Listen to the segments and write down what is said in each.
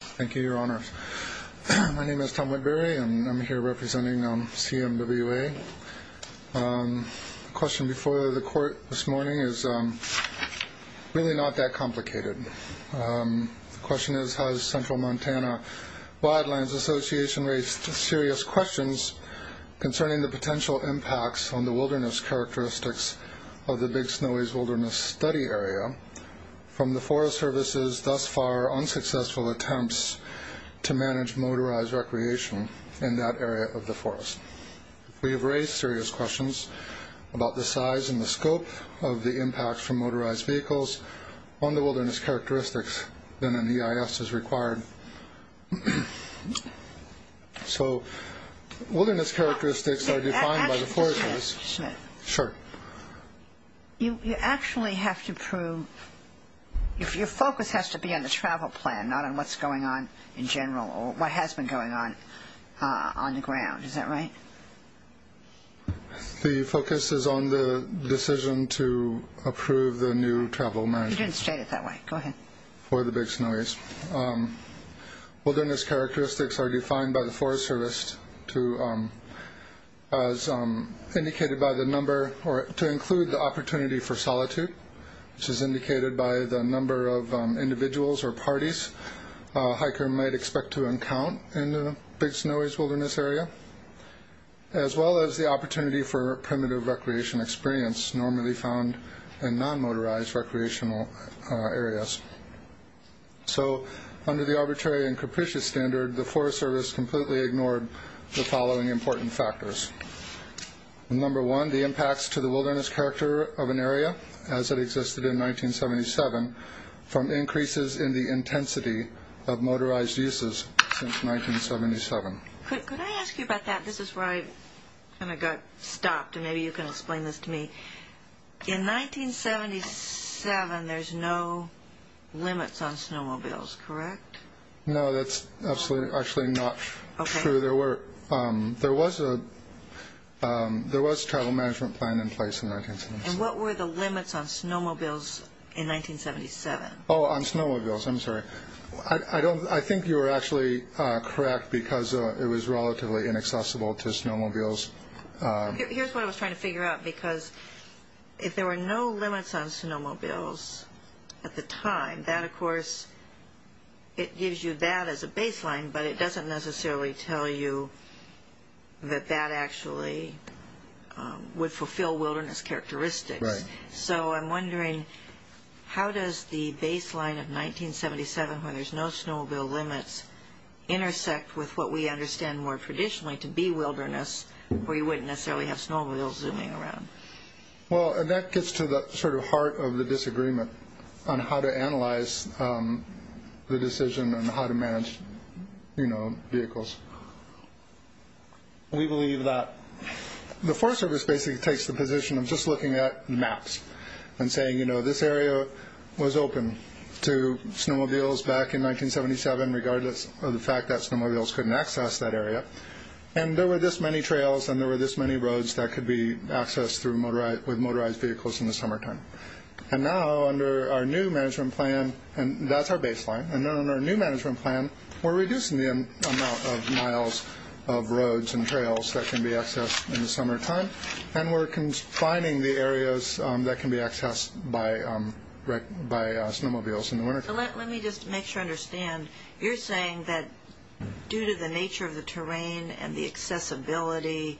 Thank you, your honors. My name is Tom McBury and I'm here representing CMWA. The question before the court this morning is really not that complicated. The question is, has Central Montana Wildlands Association raised serious questions concerning the potential impacts on the wilderness characteristics of the Big Snowys Wilderness Study Area from the Forest Services' thus far unsuccessful attempts to manage motorized recreation in that area of the forest? We have raised serious questions about the size and the scope of the impacts from motorized vehicles on the wilderness characteristics than an EIS is required. So wilderness characteristics are defined by the Forest Service. Mr. Smith, you actually have to prove, your focus has to be on the travel plan, not on what's going on in general or what has been going on on the ground, is that right? The focus is on the decision to approve the new travel management for the Big Snowys. Wilderness characteristics are defined by the Forest Service to, as indicated by the number, to include the opportunity for solitude, which is indicated by the number of individuals or parties a hiker might expect to encounter in the Big Snowys Wilderness Area, as well as the opportunity for primitive recreation experience normally found in non-motorized recreational areas. So under the arbitrary and capricious standard, the Forest Service completely ignored the following important factors. Number one, the impacts to the wilderness character of an area, as it existed in 1977, from increases in the intensity of motorized uses since 1977. Could I ask you about that? This is where I kind of got stopped and maybe you can explain this to me. In 1977, there's no limits on snowmobiles, correct? No, that's actually not true. There was a travel management plan in place in 1977. And what were the limits on snowmobiles in 1977? Oh, on snowmobiles, I'm sorry. I think you were actually correct because it was relatively inaccessible to snowmobiles. Here's what I was trying to figure out, because if there were no limits on snowmobiles at the time, that of course, it gives you that as a baseline, but it doesn't necessarily tell you that that actually would fulfill wilderness characteristics. So I'm wondering, how does the baseline of 1977, when there's no snowmobile limits, intersect with what we understand more traditionally to be wilderness, where you wouldn't necessarily have snowmobiles zooming around? Well, that gets to the sort of heart of the disagreement on how to analyze the decision and how to manage vehicles. We believe that the Forest Service basically takes the position of just looking at maps and saying, you know, this area was open to snowmobiles back in 1977, regardless of the And there were this many trails and there were this many roads that could be accessed with motorized vehicles in the summertime. And now, under our new management plan, and that's our baseline, and under our new management plan, we're reducing the amount of miles of roads and trails that can be accessed in the summertime, and we're confining the areas that can be accessed by snowmobiles in the wintertime. Let me just make sure I understand. You're saying that due to the nature of the terrain and the accessibility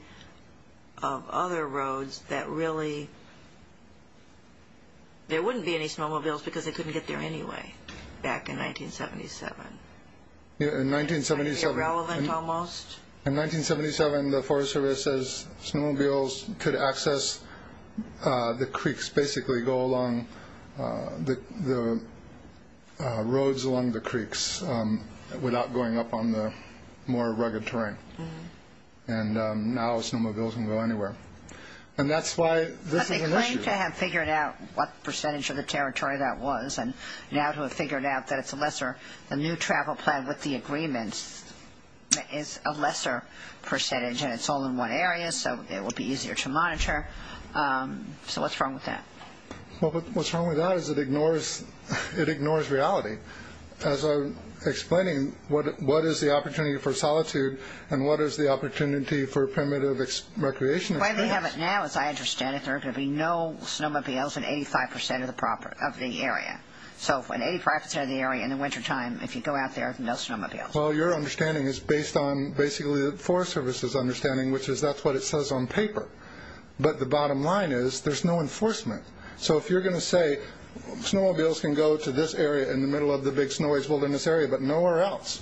of other roads, that really, there wouldn't be any snowmobiles because they couldn't get there anyway, back in 1977? In 1977, the Forest Service says snowmobiles could access the creeks, basically go along the roads along the creeks without going up on the more rugged terrain. And now snowmobiles can go anywhere. And that's why this is an issue. But they claim to have figured out what percentage of the territory that was, and now to have figured out that it's a lesser, the new travel plan with the agreements is a lesser percentage and it's all in one area, so it would be easier to monitor. So what's wrong with that? Well, what's wrong with that is it ignores reality. As I'm explaining, what is the opportunity for solitude and what is the opportunity for primitive recreation? The way we have it now, as I understand it, there are going to be no snowmobiles in 85% of the area. So in 85% of the area in the wintertime, if you go out there, no snowmobiles. Well, your understanding is based on basically the Forest Service's understanding, which is that's what it says on paper. But the bottom line is there's no enforcement. So if you're going to say snowmobiles can go to this area in the middle of the big snowy wilderness area, but nowhere else,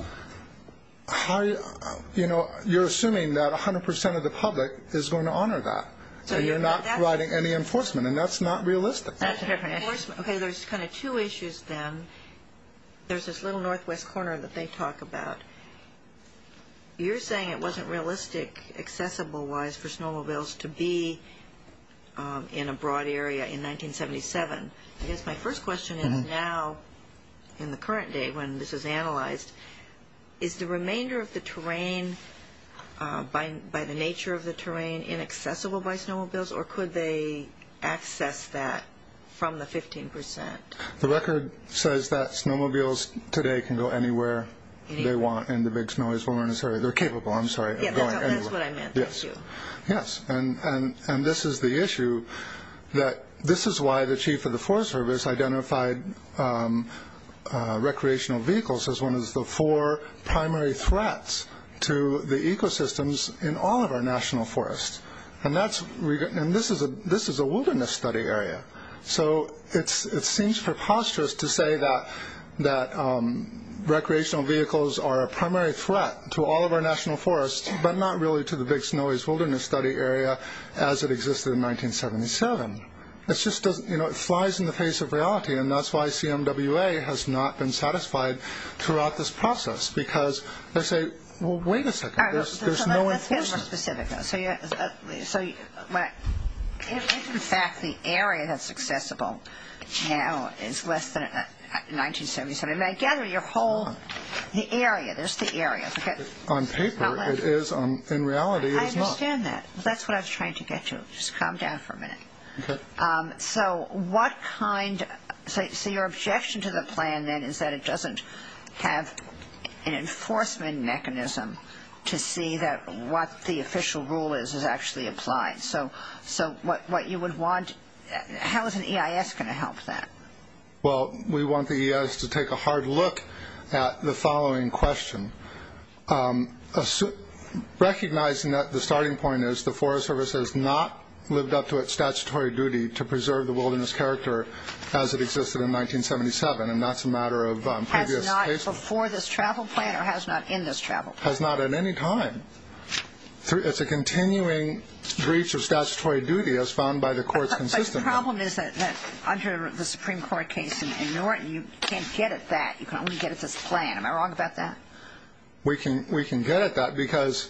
you're assuming that 100% of the public is going to honor that. And you're not providing any enforcement. And that's not realistic. That's a different issue. Okay, there's kind of two issues then. There's this little northwest corner that they talk about. You're saying it wasn't realistic, accessible-wise, for snowmobiles to be in a broad area in 1977. I guess my first question is now, in the current day when this is analyzed, is the remainder of the terrain, by the nature of the terrain, inaccessible by snowmobiles? Or could they access that from the 15%? The record says that snowmobiles today can go anywhere they want in the big snowy wilderness area. They're capable, I'm sorry, of going anywhere. Yes, that's what I meant. Thank you. Yes, and this is the issue. This is why the chief of the Forest Service identified recreational vehicles as one of the four primary threats to the ecosystems in all of our national forests. And this is a wilderness study area. So it seems preposterous to say that recreational vehicles are a primary threat to all of our national forests, but not really to the big snowy wilderness study area as it existed in 1977. It flies in the face of reality, and that's why CMWA has not been satisfied throughout this process. Because they say, well, wait a second, there's no enforcement. More specific, though. So if, in fact, the area that's accessible now is less than 1977, I gather your whole area, there's the area. On paper, it is. In reality, it is not. I understand that. That's what I was trying to get to. Just calm down for a minute. Okay. So what kind, so your objection to the plan then is that it doesn't have an enforcement mechanism to see that what the official rule is is actually applied. So what you would want, how is an EIS going to help that? Well, we want the EIS to take a hard look at the following question. Recognizing that the starting point is the Forest Service has not lived up to its statutory duty to preserve the wilderness character as it existed in 1977, and that's a matter of previous cases. Has not before this travel plan or has not in this travel plan? Has not at any time. It's a continuing breach of statutory duty as found by the courts consistently. But the problem is that under the Supreme Court case in Norton, you can't get at that. You can only get at this plan. Am I wrong about that? We can get at that because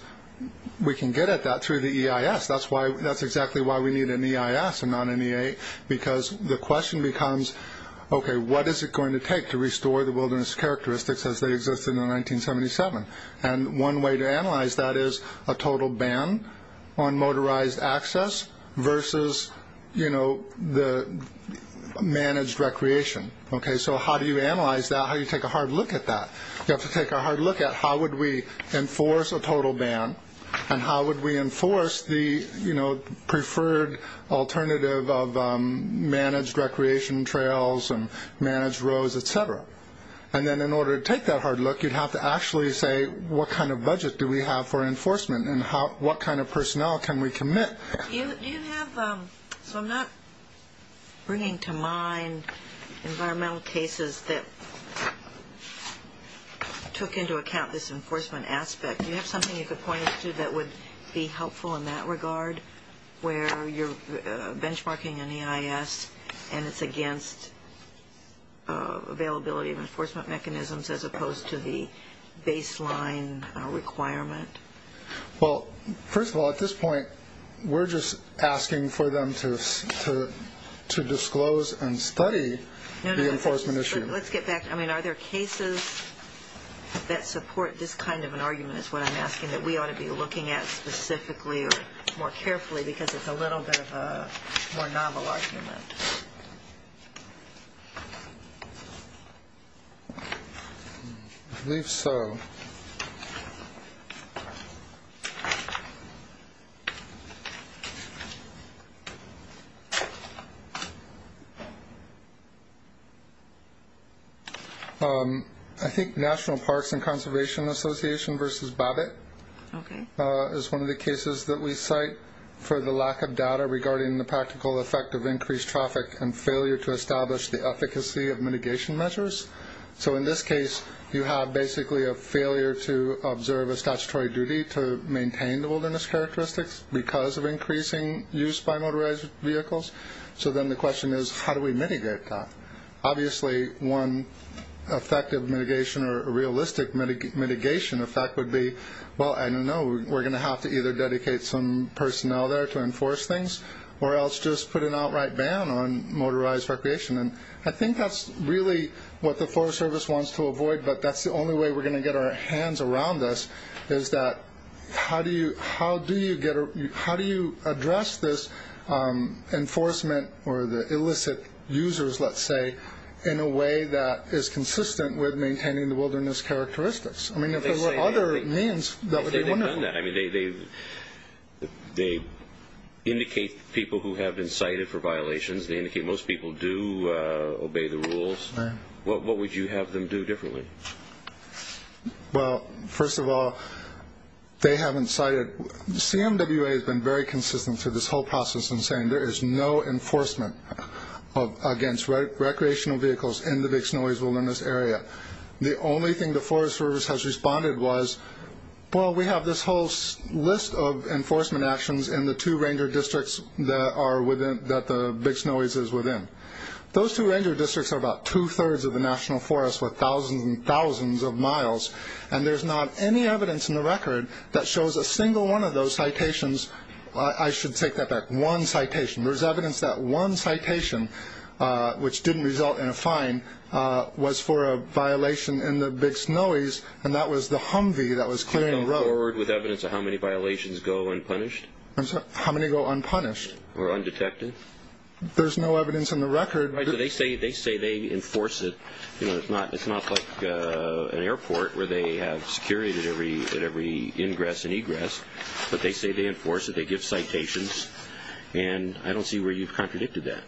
we can get at that through the EIS. That's exactly why we need an EIS and not an EA, because the question becomes, okay, what is it going to take to restore the wilderness characteristics as they existed in 1977? And one way to analyze that is a total ban on motorized access versus the managed recreation. So how do you analyze that? How do you take a hard look at that? You have to take a hard look at how would we enforce a total ban and how would we enforce the preferred alternative of managed recreation trails and managed roads, et cetera. And then in order to take that hard look, you'd have to actually say, what kind of budget do we have for enforcement and what kind of personnel can we commit? Do you have, so I'm not bringing to mind environmental cases that took into account this enforcement aspect. Do you have something you could point us to that would be helpful in that regard where you're benchmarking an EIS and it's against availability of enforcement mechanisms as opposed to the baseline requirement? Well, first of all, at this point, we're just asking for them to disclose and study the enforcement issue. Let's get back. I mean, are there cases that support this kind of an argument is what I'm asking, that we ought to be looking at specifically or more carefully because it's a little bit of a more novel argument? I believe so. Okay. I think National Parks and Conservation Association versus BABIT is one of the cases that we cite for the lack of data regarding the practical effect of increased traffic and failure to establish the efficacy of mitigation measures. So in this case, you have basically a failure to observe a statutory duty to maintain the wilderness characteristics because of increasing use by motorized vehicles. So then the question is how do we mitigate that? Obviously, one effective mitigation or realistic mitigation effect would be, well, I don't know, we're going to have to either dedicate some personnel there to enforce things or else just put an outright ban on motorized recreation. And I think that's really what the Forest Service wants to avoid, but that's the only way we're going to get our hands around this is that how do you address this enforcement or the illicit users, let's say, in a way that is consistent with maintaining the wilderness characteristics? I mean, if there were other means, that would be wonderful. They've done that. I mean, they indicate people who have been cited for violations. They indicate most people do obey the rules. What would you have them do differently? Well, first of all, they haven't cited – CMWA has been very consistent through this whole process in saying there is no enforcement against recreational vehicles in the Big Snowy Wilderness Area. The only thing the Forest Service has responded was, well, we have this whole list of enforcement actions in the two ranger districts that the Big Snowy's is within. Those two ranger districts are about two-thirds of the national forest, we're thousands and thousands of miles, and there's not any evidence in the record that shows a single one of those citations – I should take that back, one citation. There's evidence that one citation, which didn't result in a fine, was for a violation in the Big Snowy's, and that was the Humvee that was clearing the road. You've come forward with evidence of how many violations go unpunished? I'm sorry, how many go unpunished? Or undetected? There's no evidence in the record. Right, but they say they enforce it. You know, it's not like an airport where they have security at every ingress and egress, but they say they enforce it, they give citations, and I don't see where you've contradicted that.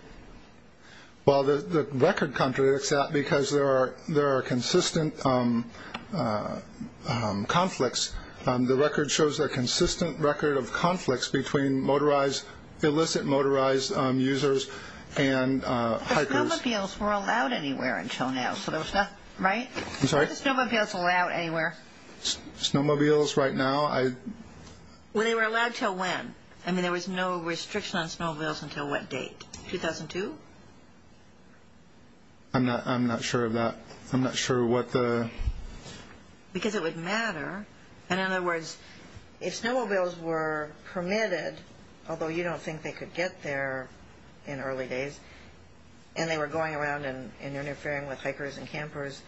Well, the record contradicts that because there are consistent conflicts. The record shows a consistent record of conflicts between motorized, illicit motorized users and hikers. But the snowmobiles were allowed anywhere until now, so there was nothing, right? I'm sorry? Were the snowmobiles allowed anywhere? Snowmobiles right now? Well, they were allowed until when? I mean, there was no restriction on snowmobiles until what date? 2002? I'm not sure of that. I'm not sure what the... Because it would matter, and in other words, if snowmobiles were permitted, although you don't think they could get there in early days, and they were going around and interfering with hikers and campers,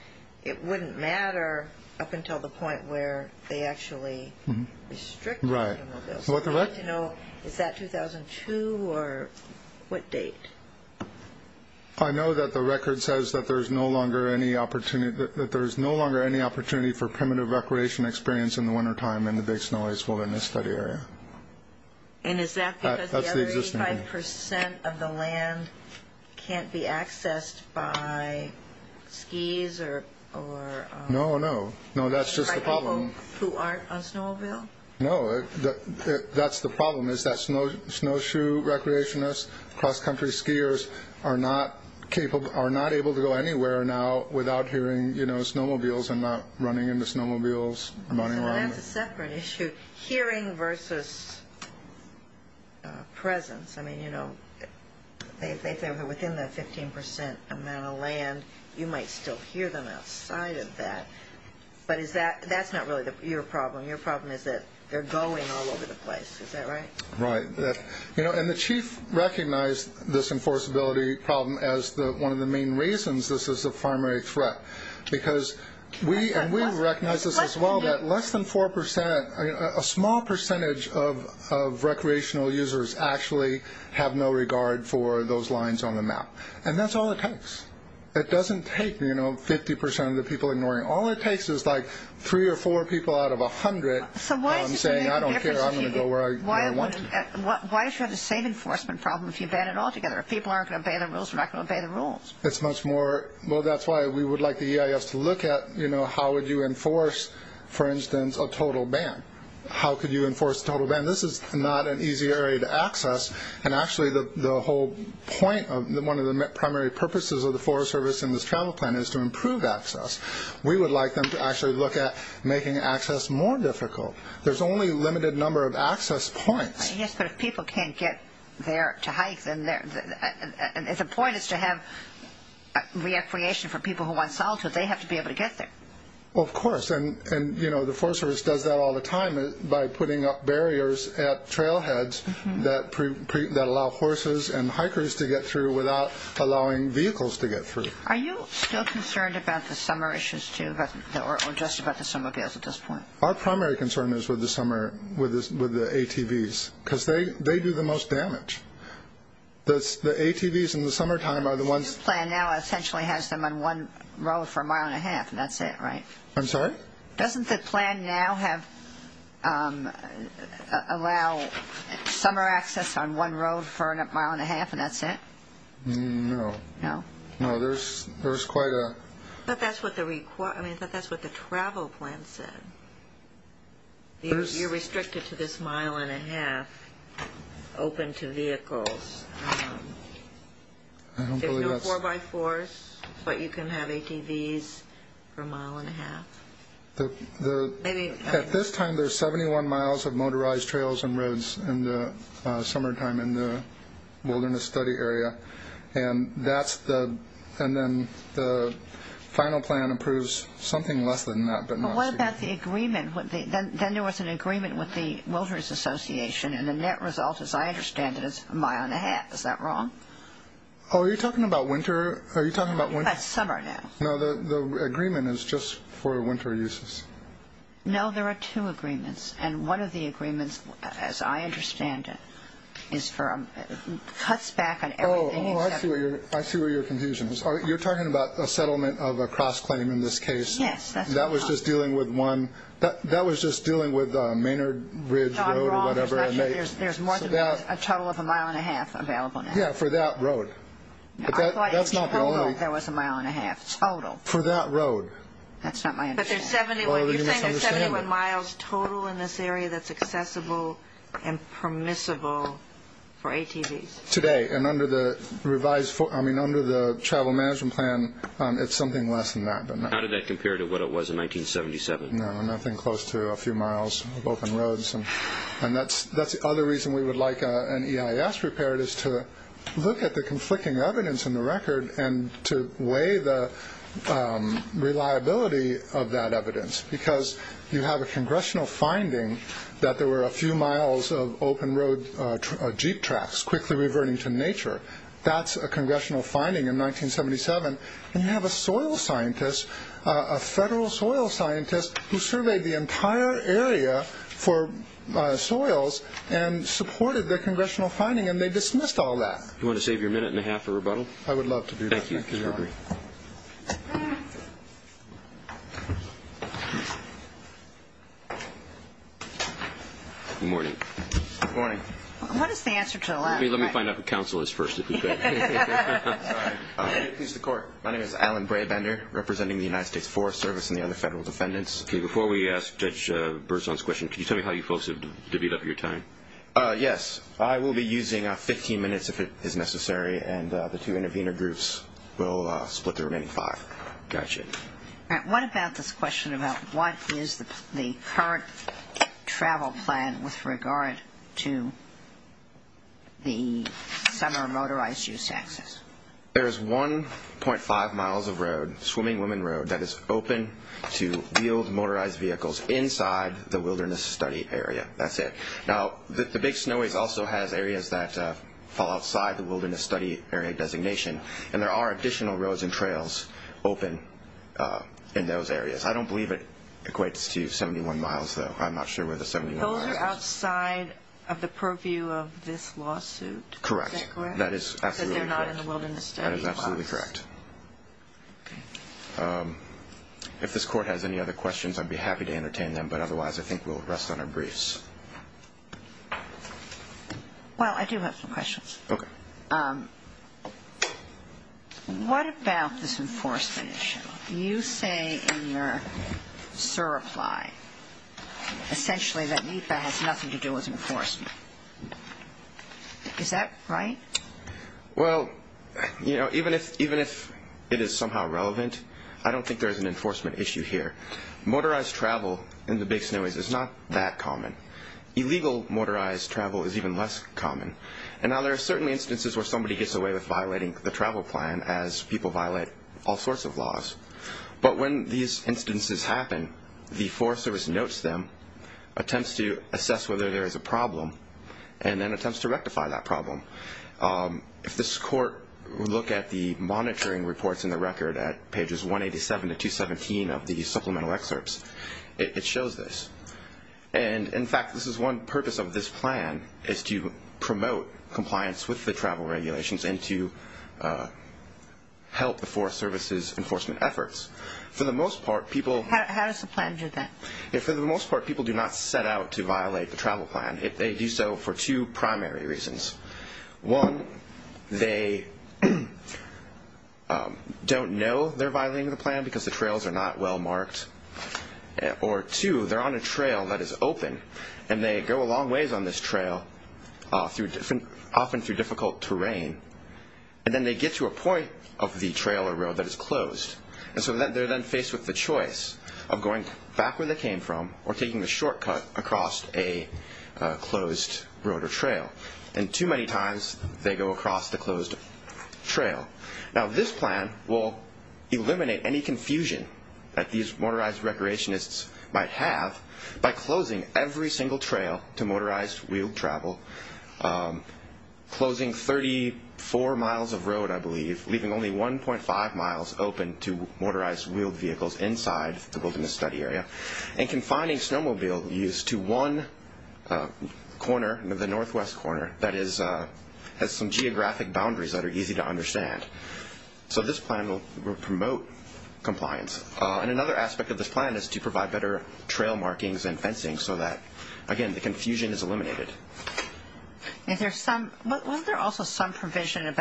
it wouldn't matter up until the point where they actually restricted snowmobiles. Is that 2002 or what date? I know that the record says that there's no longer any opportunity for primitive recreation experience in the wintertime in the Big Snow Ice Wilderness Study Area. And is that because the other 85% of the land can't be accessed by skis or... No, no. No, that's just the problem. By people who aren't on snowmobile? No, that's the problem, is that snowshoe recreationists, cross-country skiers, are not able to go anywhere now without hearing snowmobiles and not running into snowmobiles running around. That's a separate issue. Hearing versus presence. I mean, you know, they think they're within the 15% amount of land. You might still hear them outside of that. But that's not really your problem. Your problem is that they're going all over the place. Is that right? Right. And the chief recognized this enforceability problem as one of the main reasons this is a primary threat. Because we recognize this as well, that less than 4%, a small percentage of recreational users actually have no regard for those lines on the map. And that's all it takes. It doesn't take 50% of the people ignoring. All it takes is like 3 or 4 people out of 100 saying, I don't care, I'm going to go where I want to. Why is there the same enforcement problem if you ban it all together? If people aren't going to obey the rules, they're not going to obey the rules. It's much more, well, that's why we would like the EIS to look at, you know, how would you enforce, for instance, a total ban? How could you enforce a total ban? This is not an easy area to access. And actually the whole point, one of the primary purposes of the Forest Service and this travel plan is to improve access. We would like them to actually look at making access more difficult. There's only a limited number of access points. Yes, but if people can't get there to hike, the point is to have recreation for people who want solitude. They have to be able to get there. Of course, and, you know, the Forest Service does that all the time by putting up barriers at trailheads that allow horses and hikers to get through without allowing vehicles to get through. Are you still concerned about the summer issues, too, or just about the summer bills at this point? Our primary concern is with the ATVs because they do the most damage. The ATVs in the summertime are the ones... The plan now essentially has them on one road for a mile and a half and that's it, right? I'm sorry? Doesn't the plan now allow summer access on one road for a mile and a half and that's it? No. No? No, there's quite a... But that's what the travel plan said. You're restricted to this mile and a half open to vehicles. There's no 4x4s, but you can have ATVs for a mile and a half. At this time, there's 71 miles of motorized trails and roads in the summertime in the wilderness study area, and then the final plan approves something less than that. But what about the agreement? Then there was an agreement with the Wilderness Association, and the net result, as I understand it, is a mile and a half. Is that wrong? Oh, are you talking about winter? That's summer now. No, the agreement is just for winter uses. No, there are two agreements, and one of the agreements, as I understand it, cuts back on everything except... Oh, I see where your confusion is. You're talking about a settlement of a cross-claim in this case. Yes, that's what I'm talking about. That was just dealing with one. That was just dealing with Maynard Ridge Road or whatever. John, you're wrong. There's more than a total of a mile and a half available now. Yeah, for that road. I thought you said there was a mile and a half total. For that road. That's not my understanding. But you're saying there's 71 miles total in this area that's accessible and permissible for ATVs. Today, and under the Travel Management Plan, it's something less than that. How did that compare to what it was in 1977? No, nothing close to a few miles of open roads. And that's the other reason we would like an EIS prepared, is to look at the conflicting evidence in the record and to weigh the reliability of that evidence. Because you have a congressional finding that there were a few miles of open road Jeep tracks quickly reverting to nature. That's a congressional finding in 1977. And you have a soil scientist, a federal soil scientist, who surveyed the entire area for soils and supported the congressional finding. And they dismissed all that. Do you want to save your minute and a half for rebuttal? I would love to do that. Thank you. Good morning. Good morning. What is the answer to the last question? Let me find out who counsel is first. My name is Alan Brabander, representing the United States Forest Service and the other federal defendants. Before we ask Judge Berzon's question, can you tell me how you folks have divvied up your time? Yes. I will be using 15 minutes if it is necessary, and the two intervener groups will split the remaining five. Got you. All right. What about this question about what is the current travel plan with regard to the summer motorized use access? There is 1.5 miles of road, Swimming Women Road, that is open to wheeled motorized vehicles inside the Wilderness Study Area. Okay. That's it. Now, the Big Snowys also has areas that fall outside the Wilderness Study Area designation, and there are additional roads and trails open in those areas. I don't believe it equates to 71 miles, though. I'm not sure where the 71 miles is. Those are outside of the purview of this lawsuit. Correct. Is that correct? That is absolutely correct. Because they're not in the Wilderness Study box. That is absolutely correct. If this court has any other questions, I'd be happy to entertain them, but otherwise I think we'll rest on our briefs. Well, I do have some questions. Okay. What about this enforcement issue? You say in your surreply, essentially, that NEPA has nothing to do with enforcement. Is that right? Well, you know, even if it is somehow relevant, I don't think there is an enforcement issue here. Motorized travel in the Big Snowys is not that common. Illegal motorized travel is even less common. And now there are certainly instances where somebody gets away with violating the travel plan as people violate all sorts of laws. But when these instances happen, the Forest Service notes them, attempts to assess whether there is a problem, and then attempts to rectify that problem. If this court would look at the monitoring reports in the record at pages 187 to 217 of the supplemental excerpts, it shows this. And, in fact, this is one purpose of this plan is to promote compliance with the travel regulations and to help the Forest Service's enforcement efforts. How does the plan do that? For the most part, people do not set out to violate the travel plan. They do so for two primary reasons. One, they don't know they're violating the plan because the trails are not well marked. Or, two, they're on a trail that is open, and they go a long ways on this trail, often through difficult terrain. And then they get to a point of the trail or road that is closed. And so they're then faced with the choice of going back where they came from or taking the shortcut across a closed road or trail. And too many times, they go across the closed trail. Now, this plan will eliminate any confusion that these motorized recreationists might have by closing every single trail to motorized wheeled travel, closing 34 miles of road, I believe, leaving only 1.5 miles open to motorized wheeled vehicles inside the wilderness study area, and confining snowmobile use to one corner, the northwest corner, that has some geographic boundaries that are easy to understand. So this plan will promote compliance. And another aspect of this plan is to provide better trail markings and fencing so that, again, the confusion is eliminated. Was there also some provision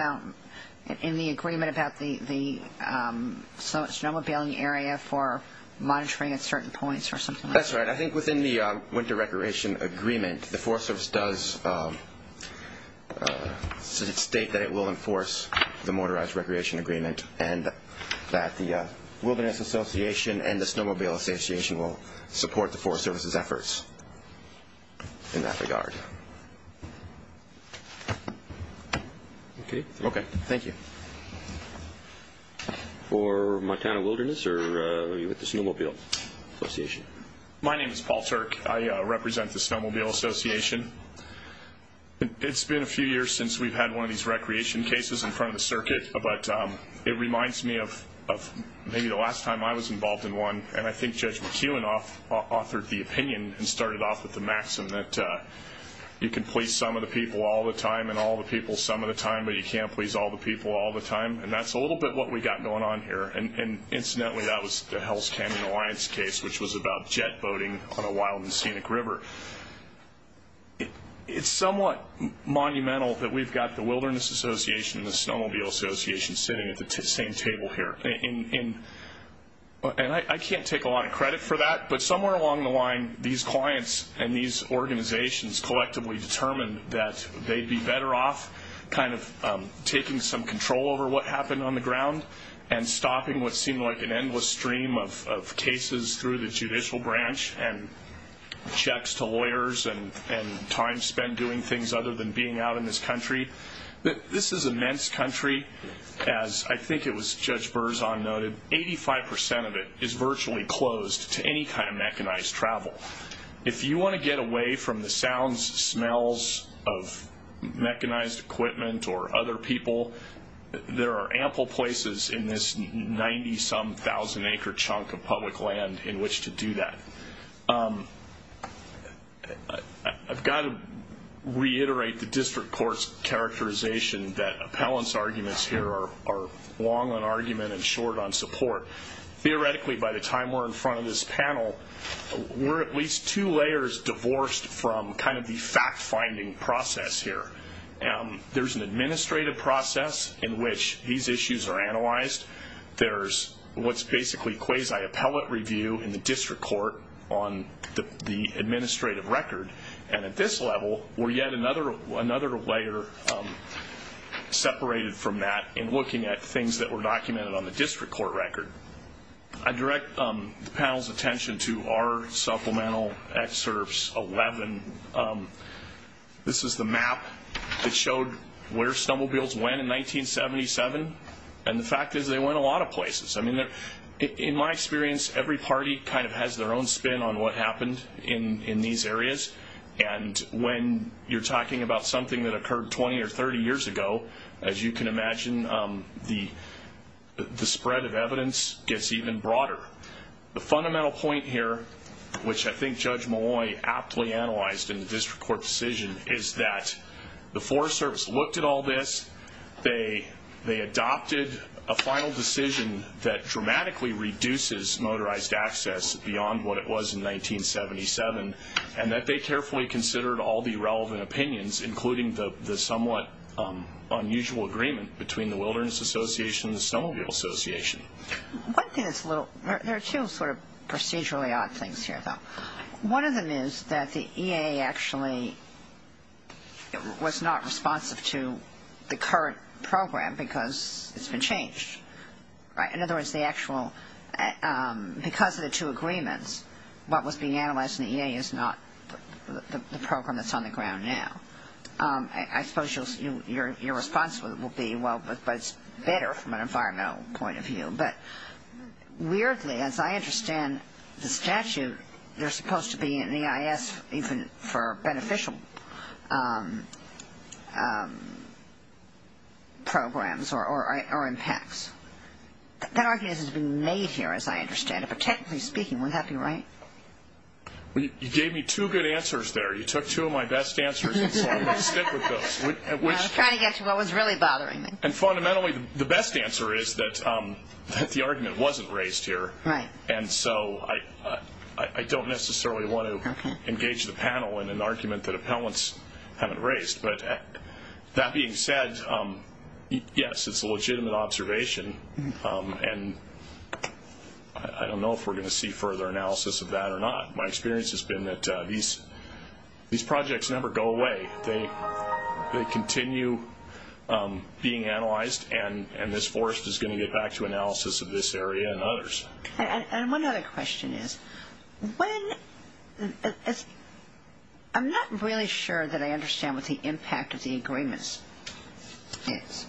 in the agreement about the snowmobiling area for monitoring at certain points or something like that? That's right. I think within the winter recreation agreement, the Forest Service does state that it will enforce the motorized recreation agreement and that the Wilderness Association and the Snowmobile Association will support the Forest Service's efforts in that regard. Okay. Okay. Thank you. For Montana Wilderness, or are you with the Snowmobile Association? My name is Paul Turk. I represent the Snowmobile Association. It's been a few years since we've had one of these recreation cases in front of the circuit, but it reminds me of maybe the last time I was involved in one, and I think Judge McEwen authored the opinion and started off with the maxim that you can please some of the people all the time and all the people some of the time, but you can't please all the people all the time. And that's a little bit what we've got going on here. Incidentally, that was the Hell's Canyon Alliance case, which was about jet boating on a wild and scenic river. It's somewhat monumental that we've got the Wilderness Association and the Snowmobile Association sitting at the same table here. And I can't take a lot of credit for that, but somewhere along the line, these clients and these organizations collectively determined that they'd be better off kind of taking some control over what happened on the ground and stopping what seemed like an endless stream of cases through the judicial branch and checks to lawyers and time spent doing things other than being out in this country. This is immense country. As I think it was Judge Berzon noted, 85% of it is virtually closed to any kind of mechanized travel. If you want to get away from the sounds, smells of mechanized equipment or other people, there are ample places in this 90-some-thousand-acre chunk of public land in which to do that. I've got to reiterate the district court's characterization that appellant's arguments here are long on argument and short on support. Theoretically, by the time we're in front of this panel, we're at least two layers divorced from kind of the fact-finding process here. There's an administrative process in which these issues are analyzed. There's what's basically quasi-appellate review in the district court on the administrative record. And at this level, we're yet another layer separated from that in looking at things that were documented on the district court record. I direct the panel's attention to our supplemental excerpts 11. This is the map that showed where Stumblebills went in 1977. And the fact is they went a lot of places. In my experience, every party kind of has their own spin on what happened in these areas. And when you're talking about something that occurred 20 or 30 years ago, as you can imagine, the spread of evidence gets even broader. The fundamental point here, which I think Judge Malloy aptly analyzed in the district court decision, is that the Forest Service looked at all this. They adopted a final decision that dramatically reduces motorized access beyond what it was in 1977, and that they carefully considered all the relevant opinions, including the somewhat unusual agreement between the Wilderness Association and the Stumblebill Association. There are two sort of procedurally odd things here, though. One of them is that the EAA actually was not responsive to the current program because it's been changed. In other words, because of the two agreements, what was being analyzed in the EAA is not the program that's on the ground now. I suppose your response will be, well, but it's better from an environmental point of view. But weirdly, as I understand the statute, they're supposed to be in the EIS even for beneficial programs or impacts. That argument has been made here, as I understand it, but technically speaking, would that be right? You gave me two good answers there. You took two of my best answers, and so I'm going to stick with those. I was trying to get to what was really bothering me. Fundamentally, the best answer is that the argument wasn't raised here, and so I don't necessarily want to engage the panel in an argument that appellants haven't raised. But that being said, yes, it's a legitimate observation, and I don't know if we're going to see further analysis of that or not. My experience has been that these projects never go away. They continue being analyzed, and this forest is going to get back to analysis of this area and others. And one other question is, I'm not really sure that I understand what the impact of the agreements is.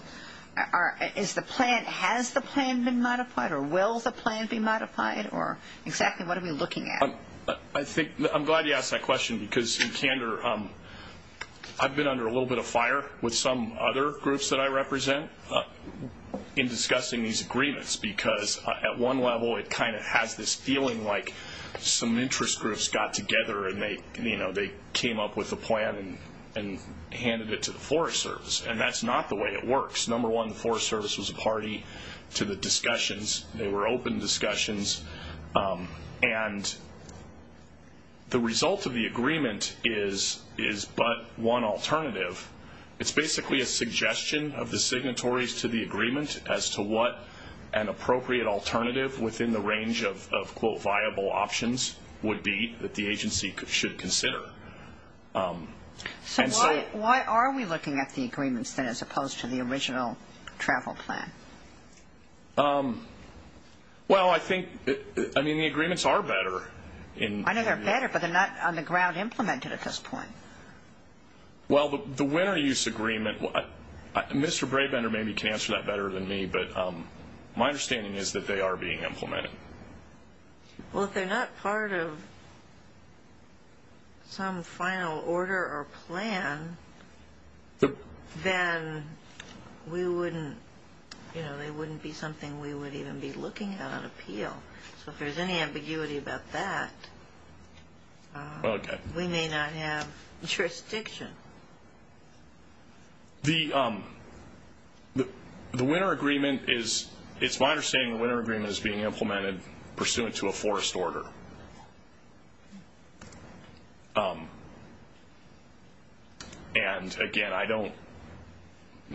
Has the plan been modified, or will the plan be modified, or exactly what are we looking at? I'm glad you asked that question, because in candor, I've been under a little bit of fire with some other groups that I represent in discussing these agreements, because at one level, it kind of has this feeling like some interest groups got together, and they came up with a plan and handed it to the Forest Service, and that's not the way it works. Number one, the Forest Service was a party to the discussions. They were open discussions, and the result of the agreement is but one alternative. It's basically a suggestion of the signatories to the agreement as to what an appropriate alternative within the range of, quote, viable options would be that the agency should consider. So why are we looking at the agreements, then, as opposed to the original travel plan? Well, I think, I mean, the agreements are better. I know they're better, but they're not on the ground implemented at this point. Well, the winter use agreement, Mr. Brabender maybe can answer that better than me, but my understanding is that they are being implemented. Well, if they're not part of some final order or plan, then they wouldn't be something we would even be looking at on appeal. So if there's any ambiguity about that, we may not have jurisdiction. The winter agreement is, it's my understanding the winter agreement is being implemented pursuant to a forest order, and, again, I don't,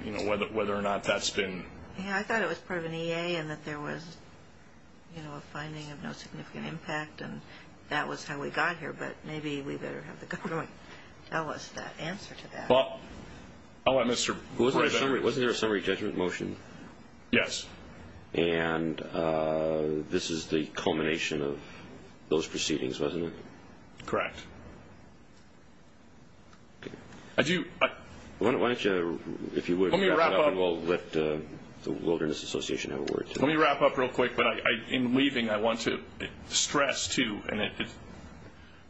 you know, whether or not that's been... Yeah, I thought it was part of an EA and that there was, you know, a finding of no significant impact, and that was how we got here, but maybe we better have the government tell us that answer to that. Well, I'll let Mr. Brabender. Wasn't there a summary judgment motion? Yes. And this is the culmination of those proceedings, wasn't it? Correct. I do... Why don't you, if you would... Let me wrap up. We'll let the Wilderness Association have a word. Let me wrap up real quick, but in leaving, I want to stress, too, and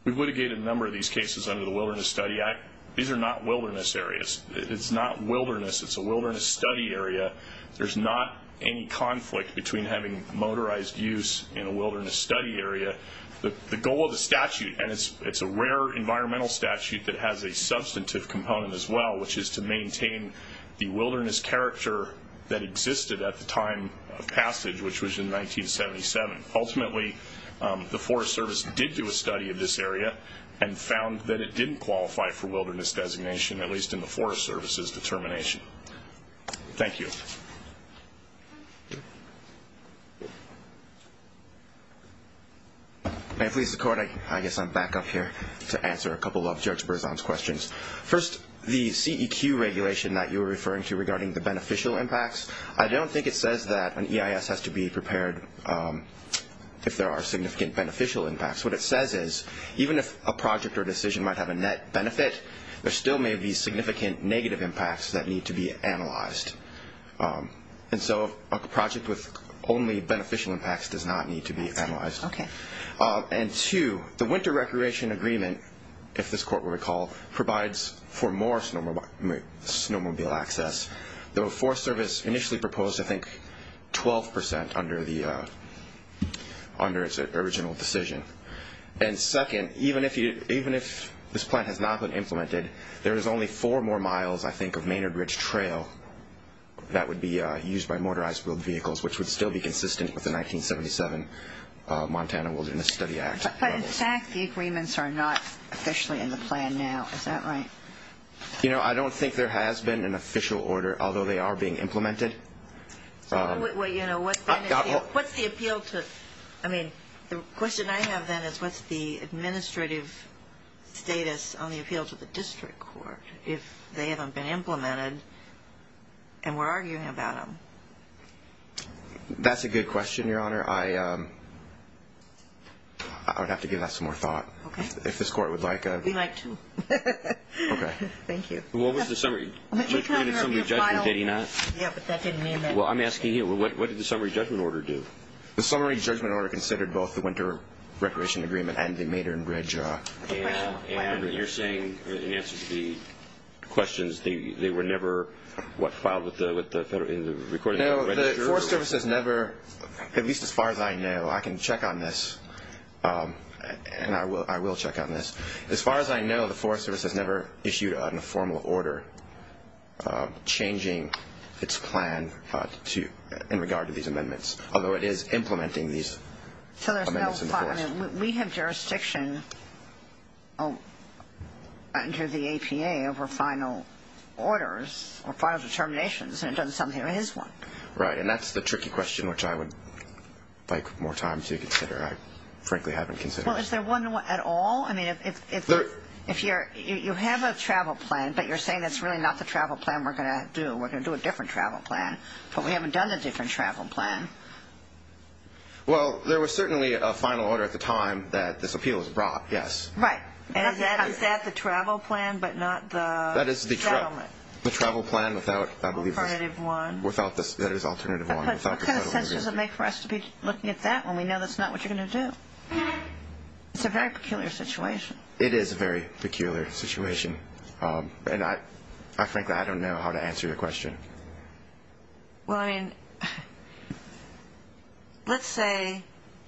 we've litigated a number of these cases under the Wilderness Study Act. These are not wilderness areas. It's not wilderness. It's a wilderness study area. There's not any conflict between having motorized use in a wilderness study area. The goal of the statute, and it's a rare environmental statute that has a substantive component as well, which is to maintain the wilderness character that existed at the time of passage, which was in 1977. Ultimately, the Forest Service did do a study of this area and found that it didn't qualify for wilderness designation, at least in the Forest Service's determination. Thank you. May it please the Court, I guess I'm back up here to answer a couple of Judge Berzon's questions. First, the CEQ regulation that you were referring to regarding the beneficial impacts, I don't think it says that an EIS has to be prepared if there are significant beneficial impacts. What it says is even if a project or decision might have a net benefit, there still may be significant negative impacts that need to be analyzed. And so a project with only beneficial impacts does not need to be analyzed. And two, the Winter Recreation Agreement, if this Court will recall, provides for more snowmobile access. The Forest Service initially proposed, I think, 12% under its original decision. And second, even if this plan has not been implemented, there is only four more miles, I think, of Maynard Ridge Trail that would be used by motorized wheeled vehicles, which would still be consistent with the 1977 Montana Wilderness Study Act. But in fact, the agreements are not officially in the plan now, is that right? You know, I don't think there has been an official order, although they are being implemented. Well, you know, what's the appeal to – I mean, the question I have then is what's the administrative status on the appeal to the district court if they haven't been implemented and we're arguing about them? That's a good question, Your Honor. I would have to give that some more thought if this Court would like a – We'd like to. Okay. Thank you. What was the summary judgment, did he not? Yeah, but that didn't mean that. Well, I'm asking you, what did the summary judgment order do? The summary judgment order considered both the Winter Recreation Agreement and the Maynard Ridge. And you're saying, in answer to the questions, they were never, what, filed with the – No, the Forest Service has never, at least as far as I know, I can check on this, and I will check on this. As far as I know, the Forest Service has never issued a formal order changing its plan in regard to these amendments, although it is implementing these amendments in the forest. We have jurisdiction under the APA over final orders or final determinations, and it doesn't sound like it is one. Right, and that's the tricky question, which I would like more time to consider. I frankly haven't considered it. Well, is there one at all? I mean, if you're – you have a travel plan, but you're saying that's really not the travel plan we're going to do. We're going to do a different travel plan, but we haven't done the different travel plan. Well, there was certainly a final order at the time that this appeal was brought, yes. Right. And is that the travel plan, but not the settlement? That is the travel plan without, I believe – Alternative one. Without the – that is alternative one. But what kind of sense does it make for us to be looking at that when we know that's not what you're going to do? It's a very peculiar situation. It is a very peculiar situation, and frankly, I don't know how to answer your question. Well, I mean, let's say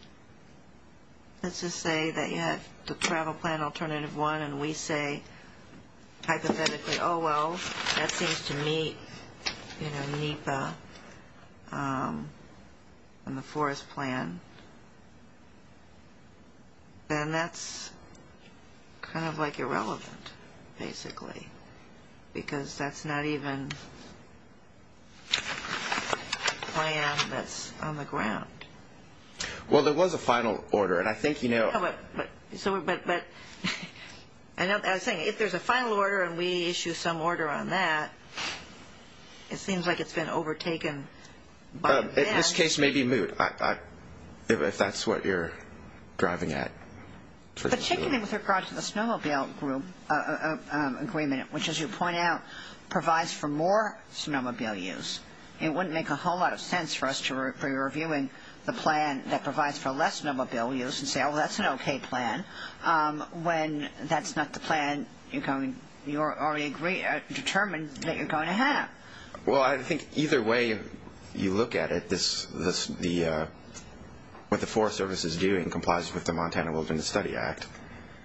– let's just say that you have the travel plan alternative one and we say hypothetically, oh, well, that seems to meet, you know, NEPA and the forest plan. Then that's kind of, like, irrelevant, basically, because that's not even a plan that's on the ground. Well, there was a final order, and I think, you know – But I was saying, if there's a final order and we issue some order on that, it seems like it's been overtaken by NEPA. This case may be moot, if that's what you're driving at. Particularly with regard to the snowmobile group agreement, which, as you point out, provides for more snowmobile use. It wouldn't make a whole lot of sense for us to review the plan that provides for less snowmobile use and say, oh, that's an okay plan, when that's not the plan you're already determined that you're going to have. Well, I think either way you look at it, what the Forest Service is doing complies with the Montana Wilderness Study Act.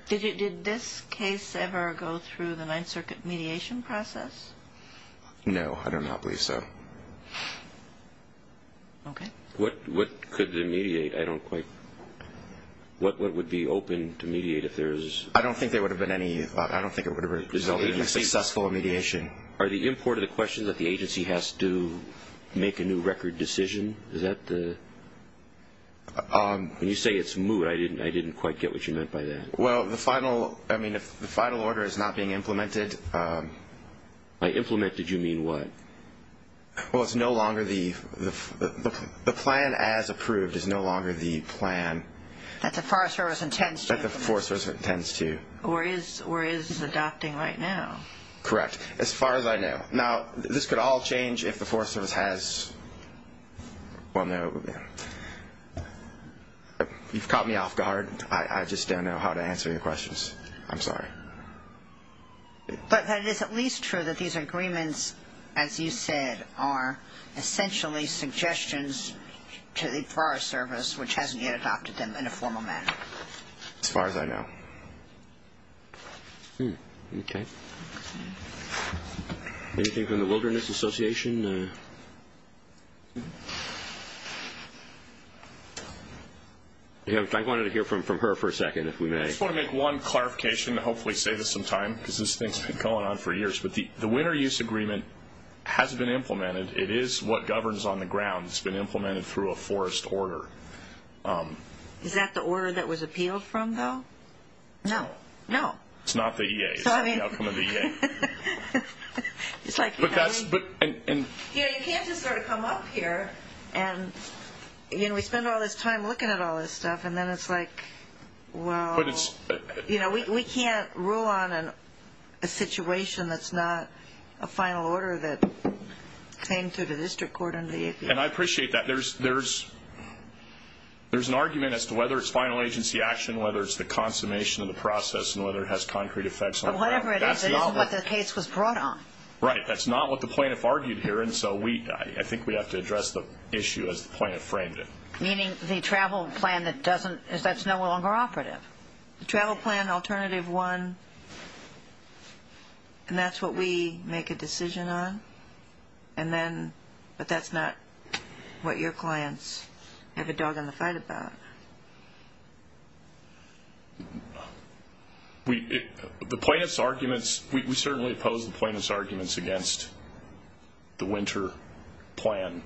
Did this case ever go through the Ninth Circuit mediation process? No, I do not believe so. Okay. What could it mediate? I don't quite – what would be open to mediate if there's – I don't think there would have been any – I don't think it would have resulted in a successful mediation. Are the import of the questions that the agency has to make a new record decision, is that the – when you say it's moot, I didn't quite get what you meant by that. Well, the final – I mean, if the final order is not being implemented – By implemented, you mean what? Well, it's no longer the – the plan as approved is no longer the plan – That the Forest Service intends to. That the Forest Service intends to. Or is adopting right now. Correct. As far as I know. Now, this could all change if the Forest Service has – Well, no. You've caught me off guard. I just don't know how to answer your questions. I'm sorry. But it is at least true that these agreements, as you said, are essentially suggestions to the Forest Service, which hasn't yet adopted them in a formal manner. As far as I know. Hmm. Okay. Anything from the Wilderness Association? I wanted to hear from her for a second, if we may. I just want to make one clarification to hopefully save us some time, because this thing's been going on for years. But the Winter Use Agreement has been implemented. It is what governs on the ground. It's been implemented through a forest order. Is that the order that was appealed from, though? No. No. It's not the EA. It's not the outcome of the EA. But that's – You know, you can't just sort of come up here and – You know, we spend all this time looking at all this stuff, and then it's like, well – But it's – You know, we can't rule on a situation that's not a final order that came through the district court and the EPA. And I appreciate that. There's an argument as to whether it's final agency action, whether it's the consummation of the process, and whether it has concrete effects on travel. But whatever it is, it isn't what the case was brought on. Right. That's not what the plaintiff argued here. And so we – I think we have to address the issue as the plaintiff framed it. Meaning the travel plan that doesn't – that's no longer operative. The travel plan, alternative one, and that's what we make a decision on. And then – but that's not what your clients have a dog in the fight about. The plaintiff's arguments – we certainly oppose the plaintiff's arguments against the winter plan.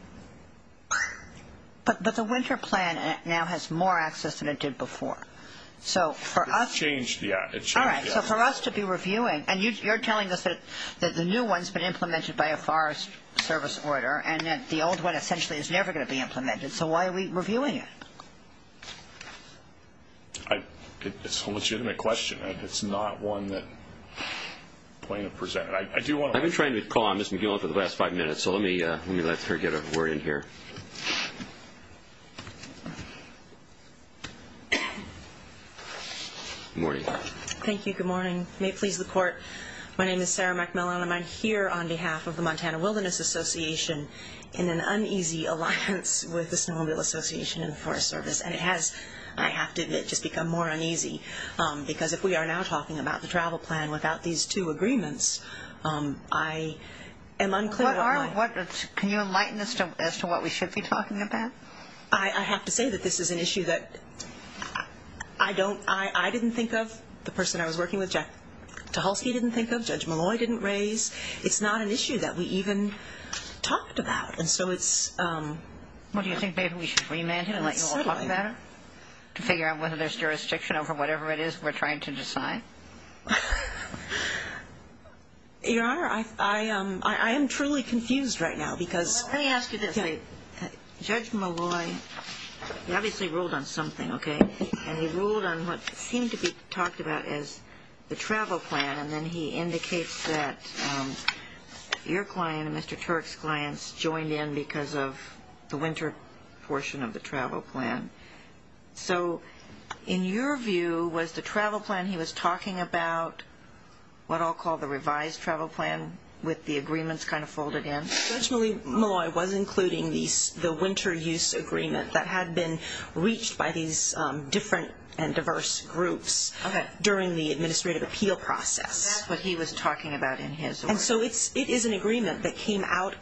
But the winter plan now has more access than it did before. So for us – It's changed, yeah. It's changed, yeah. All right. So for us to be reviewing – And you're telling us that the new one's been implemented by a Forest Service order and that the old one essentially is never going to be implemented. So why are we reviewing it? It's a legitimate question. It's not one that the plaintiff presented. I do want to – I've been trying to call on Ms. McGill for the last five minutes. So let me let her get her word in here. Good morning. Thank you. Good morning. May it please the court. My name is Sarah McMillan. I'm here on behalf of the Montana Wilderness Association in an uneasy alliance with the Snowmobile Association and the Forest Service. And it has, I have to admit, just become more uneasy because if we are now talking about the travel plan without these two agreements, I am unclear – What are – can you enlighten us as to what we should be talking about? I have to say that this is an issue that I don't – the person I was working with, Tahulski, didn't think of. Judge Malloy didn't raise. It's not an issue that we even talked about. And so it's – Well, do you think maybe we should remand him and let you all talk about it to figure out whether there's jurisdiction over whatever it is we're trying to decide? Your Honor, I am truly confused right now because – Well, let me ask you this. Judge Malloy, he obviously ruled on something, okay? And he ruled on what seemed to be talked about as the travel plan, and then he indicates that your client and Mr. Turk's clients joined in because of the winter portion of the travel plan. So in your view, was the travel plan he was talking about what I'll call the revised travel plan with the agreements kind of folded in? Judge Malloy was including the winter use agreement that had been reached by these different and diverse groups during the administrative appeal process. That's what he was talking about in his order. And so it is an agreement that came out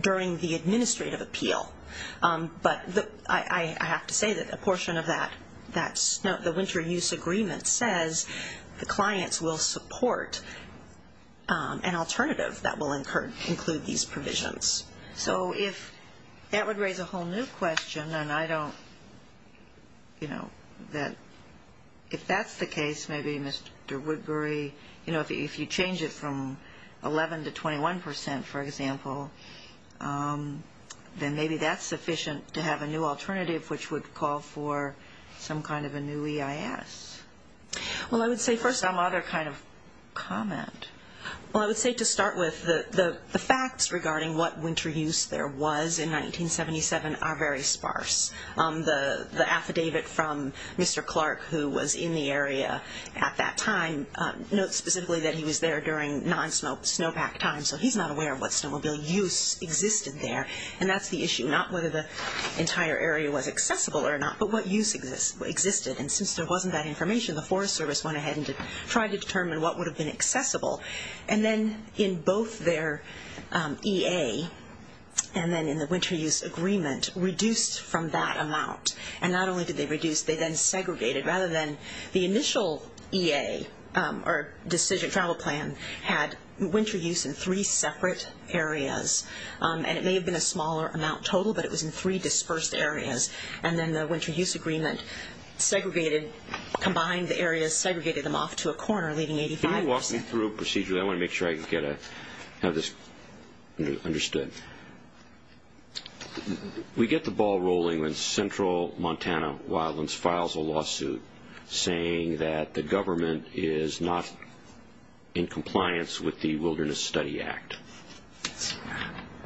during the administrative appeal. But I have to say that a portion of that – the winter use agreement says the clients will support an alternative that will include these provisions. So if – that would raise a whole new question, and I don't – you know, that if that's the case, maybe Mr. Woodbury, you know, if you change it from 11% to 21%, for example, then maybe that's sufficient to have a new alternative which would call for some kind of a new EIS. Well, I would say first some other kind of comment. Well, I would say to start with, the facts regarding what winter use there was in 1977 are very sparse. The affidavit from Mr. Clark, who was in the area at that time, notes specifically that he was there during non-snowpack time, so he's not aware of what snowmobile use existed there. And that's the issue, not whether the entire area was accessible or not, but what use existed. And since there wasn't that information, the Forest Service went ahead and tried to determine what would have been accessible. And then in both their EA and then in the winter use agreement, reduced from that amount. And not only did they reduce, they then segregated. Rather than the initial EA, or decision travel plan, had winter use in three separate areas, and it may have been a smaller amount total, but it was in three dispersed areas. And then the winter use agreement segregated, combined the areas, segregated them off to a corner, leaving 85%. Can you walk me through a procedure? I want to make sure I get this understood. We get the ball rolling when Central Montana Wildlands files a lawsuit saying that the government is not in compliance with the Wilderness Study Act.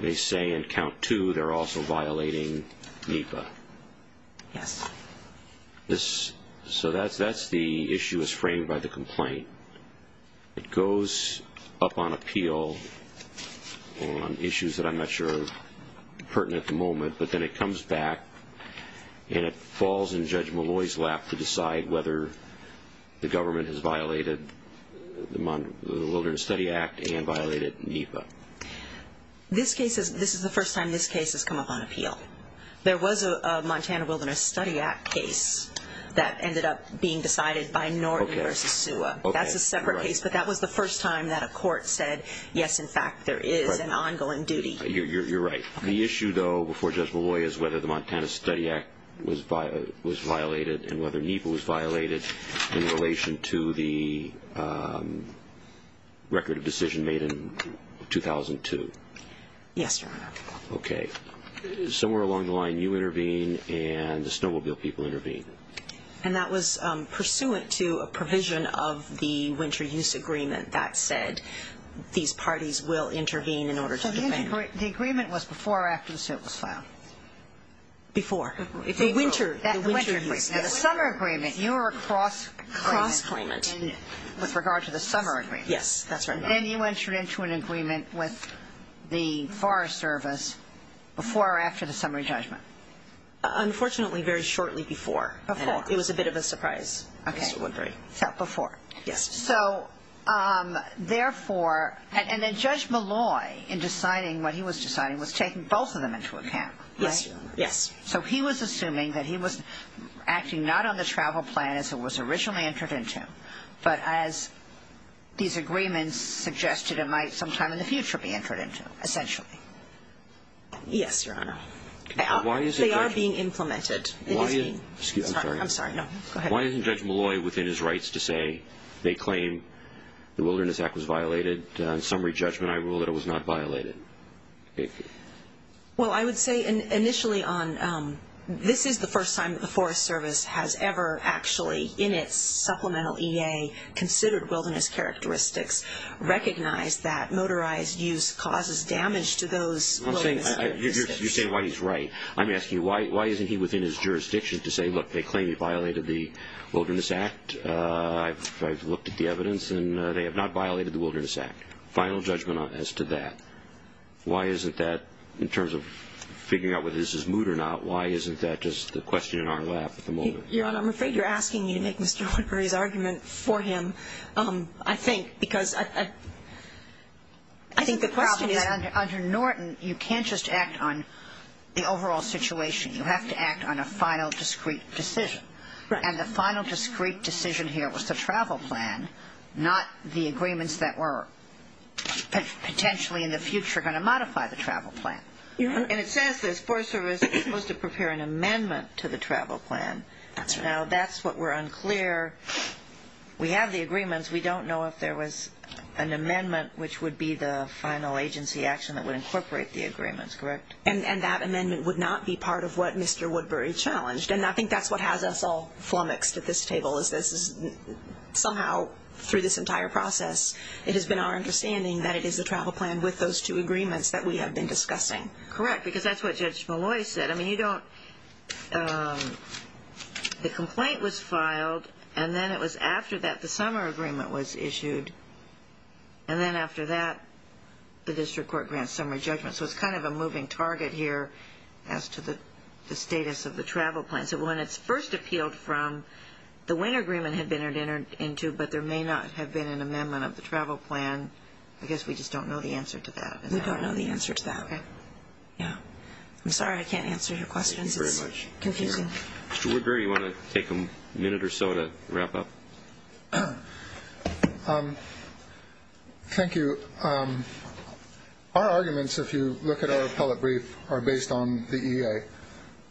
They say in count two they're also violating NEPA. Yes. So that's the issue that's framed by the complaint. It goes up on appeal on issues that I'm not sure are pertinent at the moment, but then it comes back and it falls in Judge Malloy's lap to decide whether the government has violated the Wilderness Study Act and violated NEPA. This is the first time this case has come up on appeal. Well, there was a Montana Wilderness Study Act case that ended up being decided by Norton v. SUA. That's a separate case, but that was the first time that a court said, yes, in fact, there is an ongoing duty. You're right. The issue, though, before Judge Malloy is whether the Montana Study Act was violated and whether NEPA was violated in relation to the record of decision made in 2002. Yes, Your Honor. Okay. Somewhere along the line you intervene and the Snowmobile people intervene. And that was pursuant to a provision of the winter use agreement that said these parties will intervene in order to defend. So the agreement was before or after the suit was filed? Before. The winter use. Now, the summer agreement, you were a cross-claimant with regard to the summer agreement. Yes, that's right. And then you entered into an agreement with the Forest Service before or after the summary judgment. Unfortunately, very shortly before. Before. It was a bit of a surprise, Mr. Woodbury. Okay. So before. Yes. So therefore, and then Judge Malloy in deciding what he was deciding was taking both of them into account, right? Yes, Your Honor. Yes. So he was assuming that he was acting not on the travel plan as it was originally entered into, but as these agreements suggested it might sometime in the future be entered into, essentially. Yes, Your Honor. They are being implemented. Why isn't Judge Malloy within his rights to say they claim the Wilderness Act was violated? On summary judgment, I rule that it was not violated. Well, I would say initially on this is the first time that the Forest Service has ever actually, in its supplemental EA, considered wilderness characteristics, recognized that motorized use causes damage to those wilderness characteristics. You say why he's right. I'm asking you why isn't he within his jurisdiction to say, look, they claim he violated the Wilderness Act. I've looked at the evidence, and they have not violated the Wilderness Act. Final judgment as to that. Why isn't that, in terms of figuring out whether this is moot or not, why isn't that just the question in our lap at the moment? Your Honor, I'm afraid you're asking me to make Mr. Woodbury's argument for him, I think, because I think the question is Under Norton, you can't just act on the overall situation. You have to act on a final, discreet decision. And the final, discreet decision here was the travel plan, not the agreements that were potentially in the future going to modify the travel plan. And it says this, Forest Service was supposed to prepare an amendment to the travel plan. Now, that's what we're unclear. We have the agreements. We don't know if there was an amendment which would be the final agency action that would incorporate the agreements, correct? And that amendment would not be part of what Mr. Woodbury challenged. And I think that's what has us all flummoxed at this table, is this is somehow, through this entire process, it has been our understanding that it is the travel plan with those two agreements that we have been discussing. Correct, because that's what Judge Malloy said. I mean, you don't – the complaint was filed, and then it was after that the summer agreement was issued. And then after that, the district court grants summary judgment. So it's kind of a moving target here as to the status of the travel plan. So when it's first appealed from, the winter agreement had been entered into, but there may not have been an amendment of the travel plan. I guess we just don't know the answer to that. We don't know the answer to that. Okay. Yeah. I'm sorry I can't answer your questions. Thank you very much. It's confusing. Mr. Woodbury, you want to take a minute or so to wrap up? Thank you. Our arguments, if you look at our appellate brief, are based on the EA.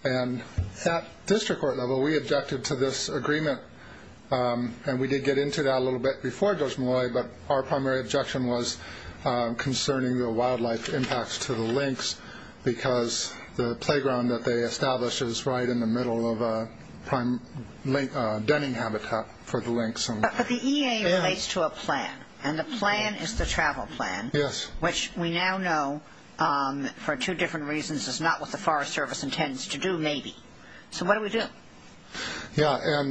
And at district court level, we objected to this agreement, and we did get into that a little bit before Judge Malloy, but our primary objection was concerning the wildlife impacts to the lynx because the playground that they established is right in the middle of a denning habitat for the lynx. But the EA relates to a plan, and the plan is the travel plan. Yes. Which we now know, for two different reasons, is not what the Forest Service intends to do, maybe. So what do we do? Yeah.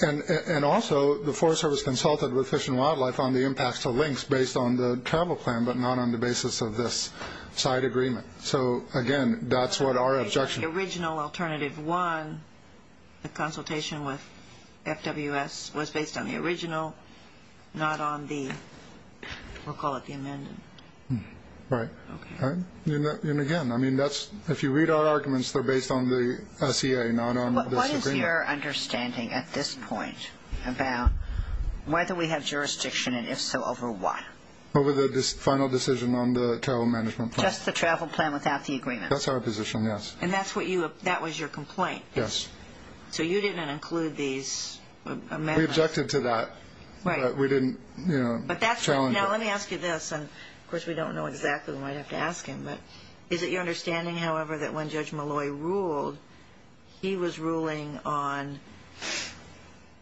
And also, the Forest Service consulted with Fish and Wildlife on the impacts to lynx based on the travel plan, but not on the basis of this side agreement. So, again, that's what our objection is. The original alternative one, the consultation with FWS, was based on the original, not on the, we'll call it the amendment. Right. And, again, I mean, if you read our arguments, they're based on the SEA, not on this agreement. What is your understanding at this point about whether we have jurisdiction, and if so, over what? Over the final decision on the travel management plan. Just the travel plan without the agreement? That's our position, yes. And that was your complaint? Yes. So you didn't include these amendments? We objected to that, but we didn't challenge it. Now, let me ask you this, and, of course, we don't know exactly, we might have to ask him, but is it your understanding, however, that when Judge Malloy ruled, he was ruling on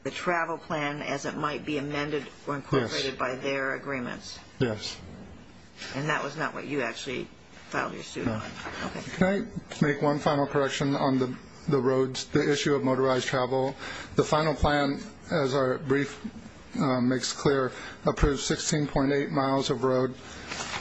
the travel plan as it might be amended or incorporated by their agreements? Yes. And that was not what you actually filed your suit on? No. Can I make one final correction on the roads, the issue of motorized travel? The final plan, as our brief makes clear, approved 16.8 miles of road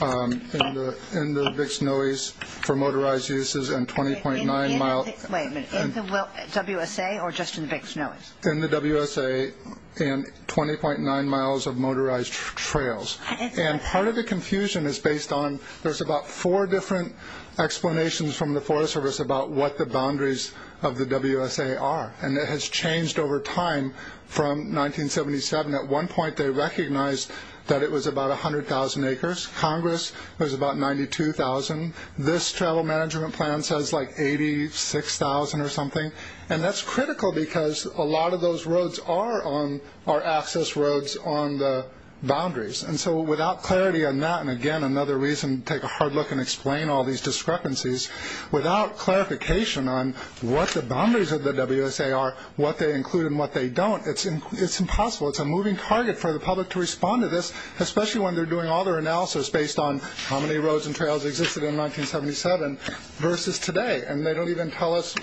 in the Big Snowies for motorized uses and 20.9 miles. Wait a minute, in the WSA or just in the Big Snowies? In the WSA and 20.9 miles of motorized trails. And part of the confusion is based on there's about four different explanations from the Forest Service about what the boundaries of the WSA are. And it has changed over time from 1977. At one point they recognized that it was about 100,000 acres. Congress, it was about 92,000. This travel management plan says like 86,000 or something. And that's critical because a lot of those roads are access roads on the boundaries. And so without clarity on that, and, again, another reason to take a hard look and explain all these discrepancies, without clarification on what the boundaries of the WSA are, what they include and what they don't, it's impossible. It's a moving target for the public to respond to this, especially when they're doing all their analysis based on how many roads and trails existed in 1977 versus today. And they don't even tell us,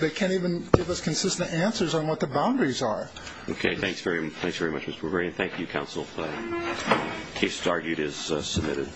they can't even give us consistent answers on what the boundaries are. Okay, thanks very much, Mr. Bergeron. Thank you, counsel. The case is submitted.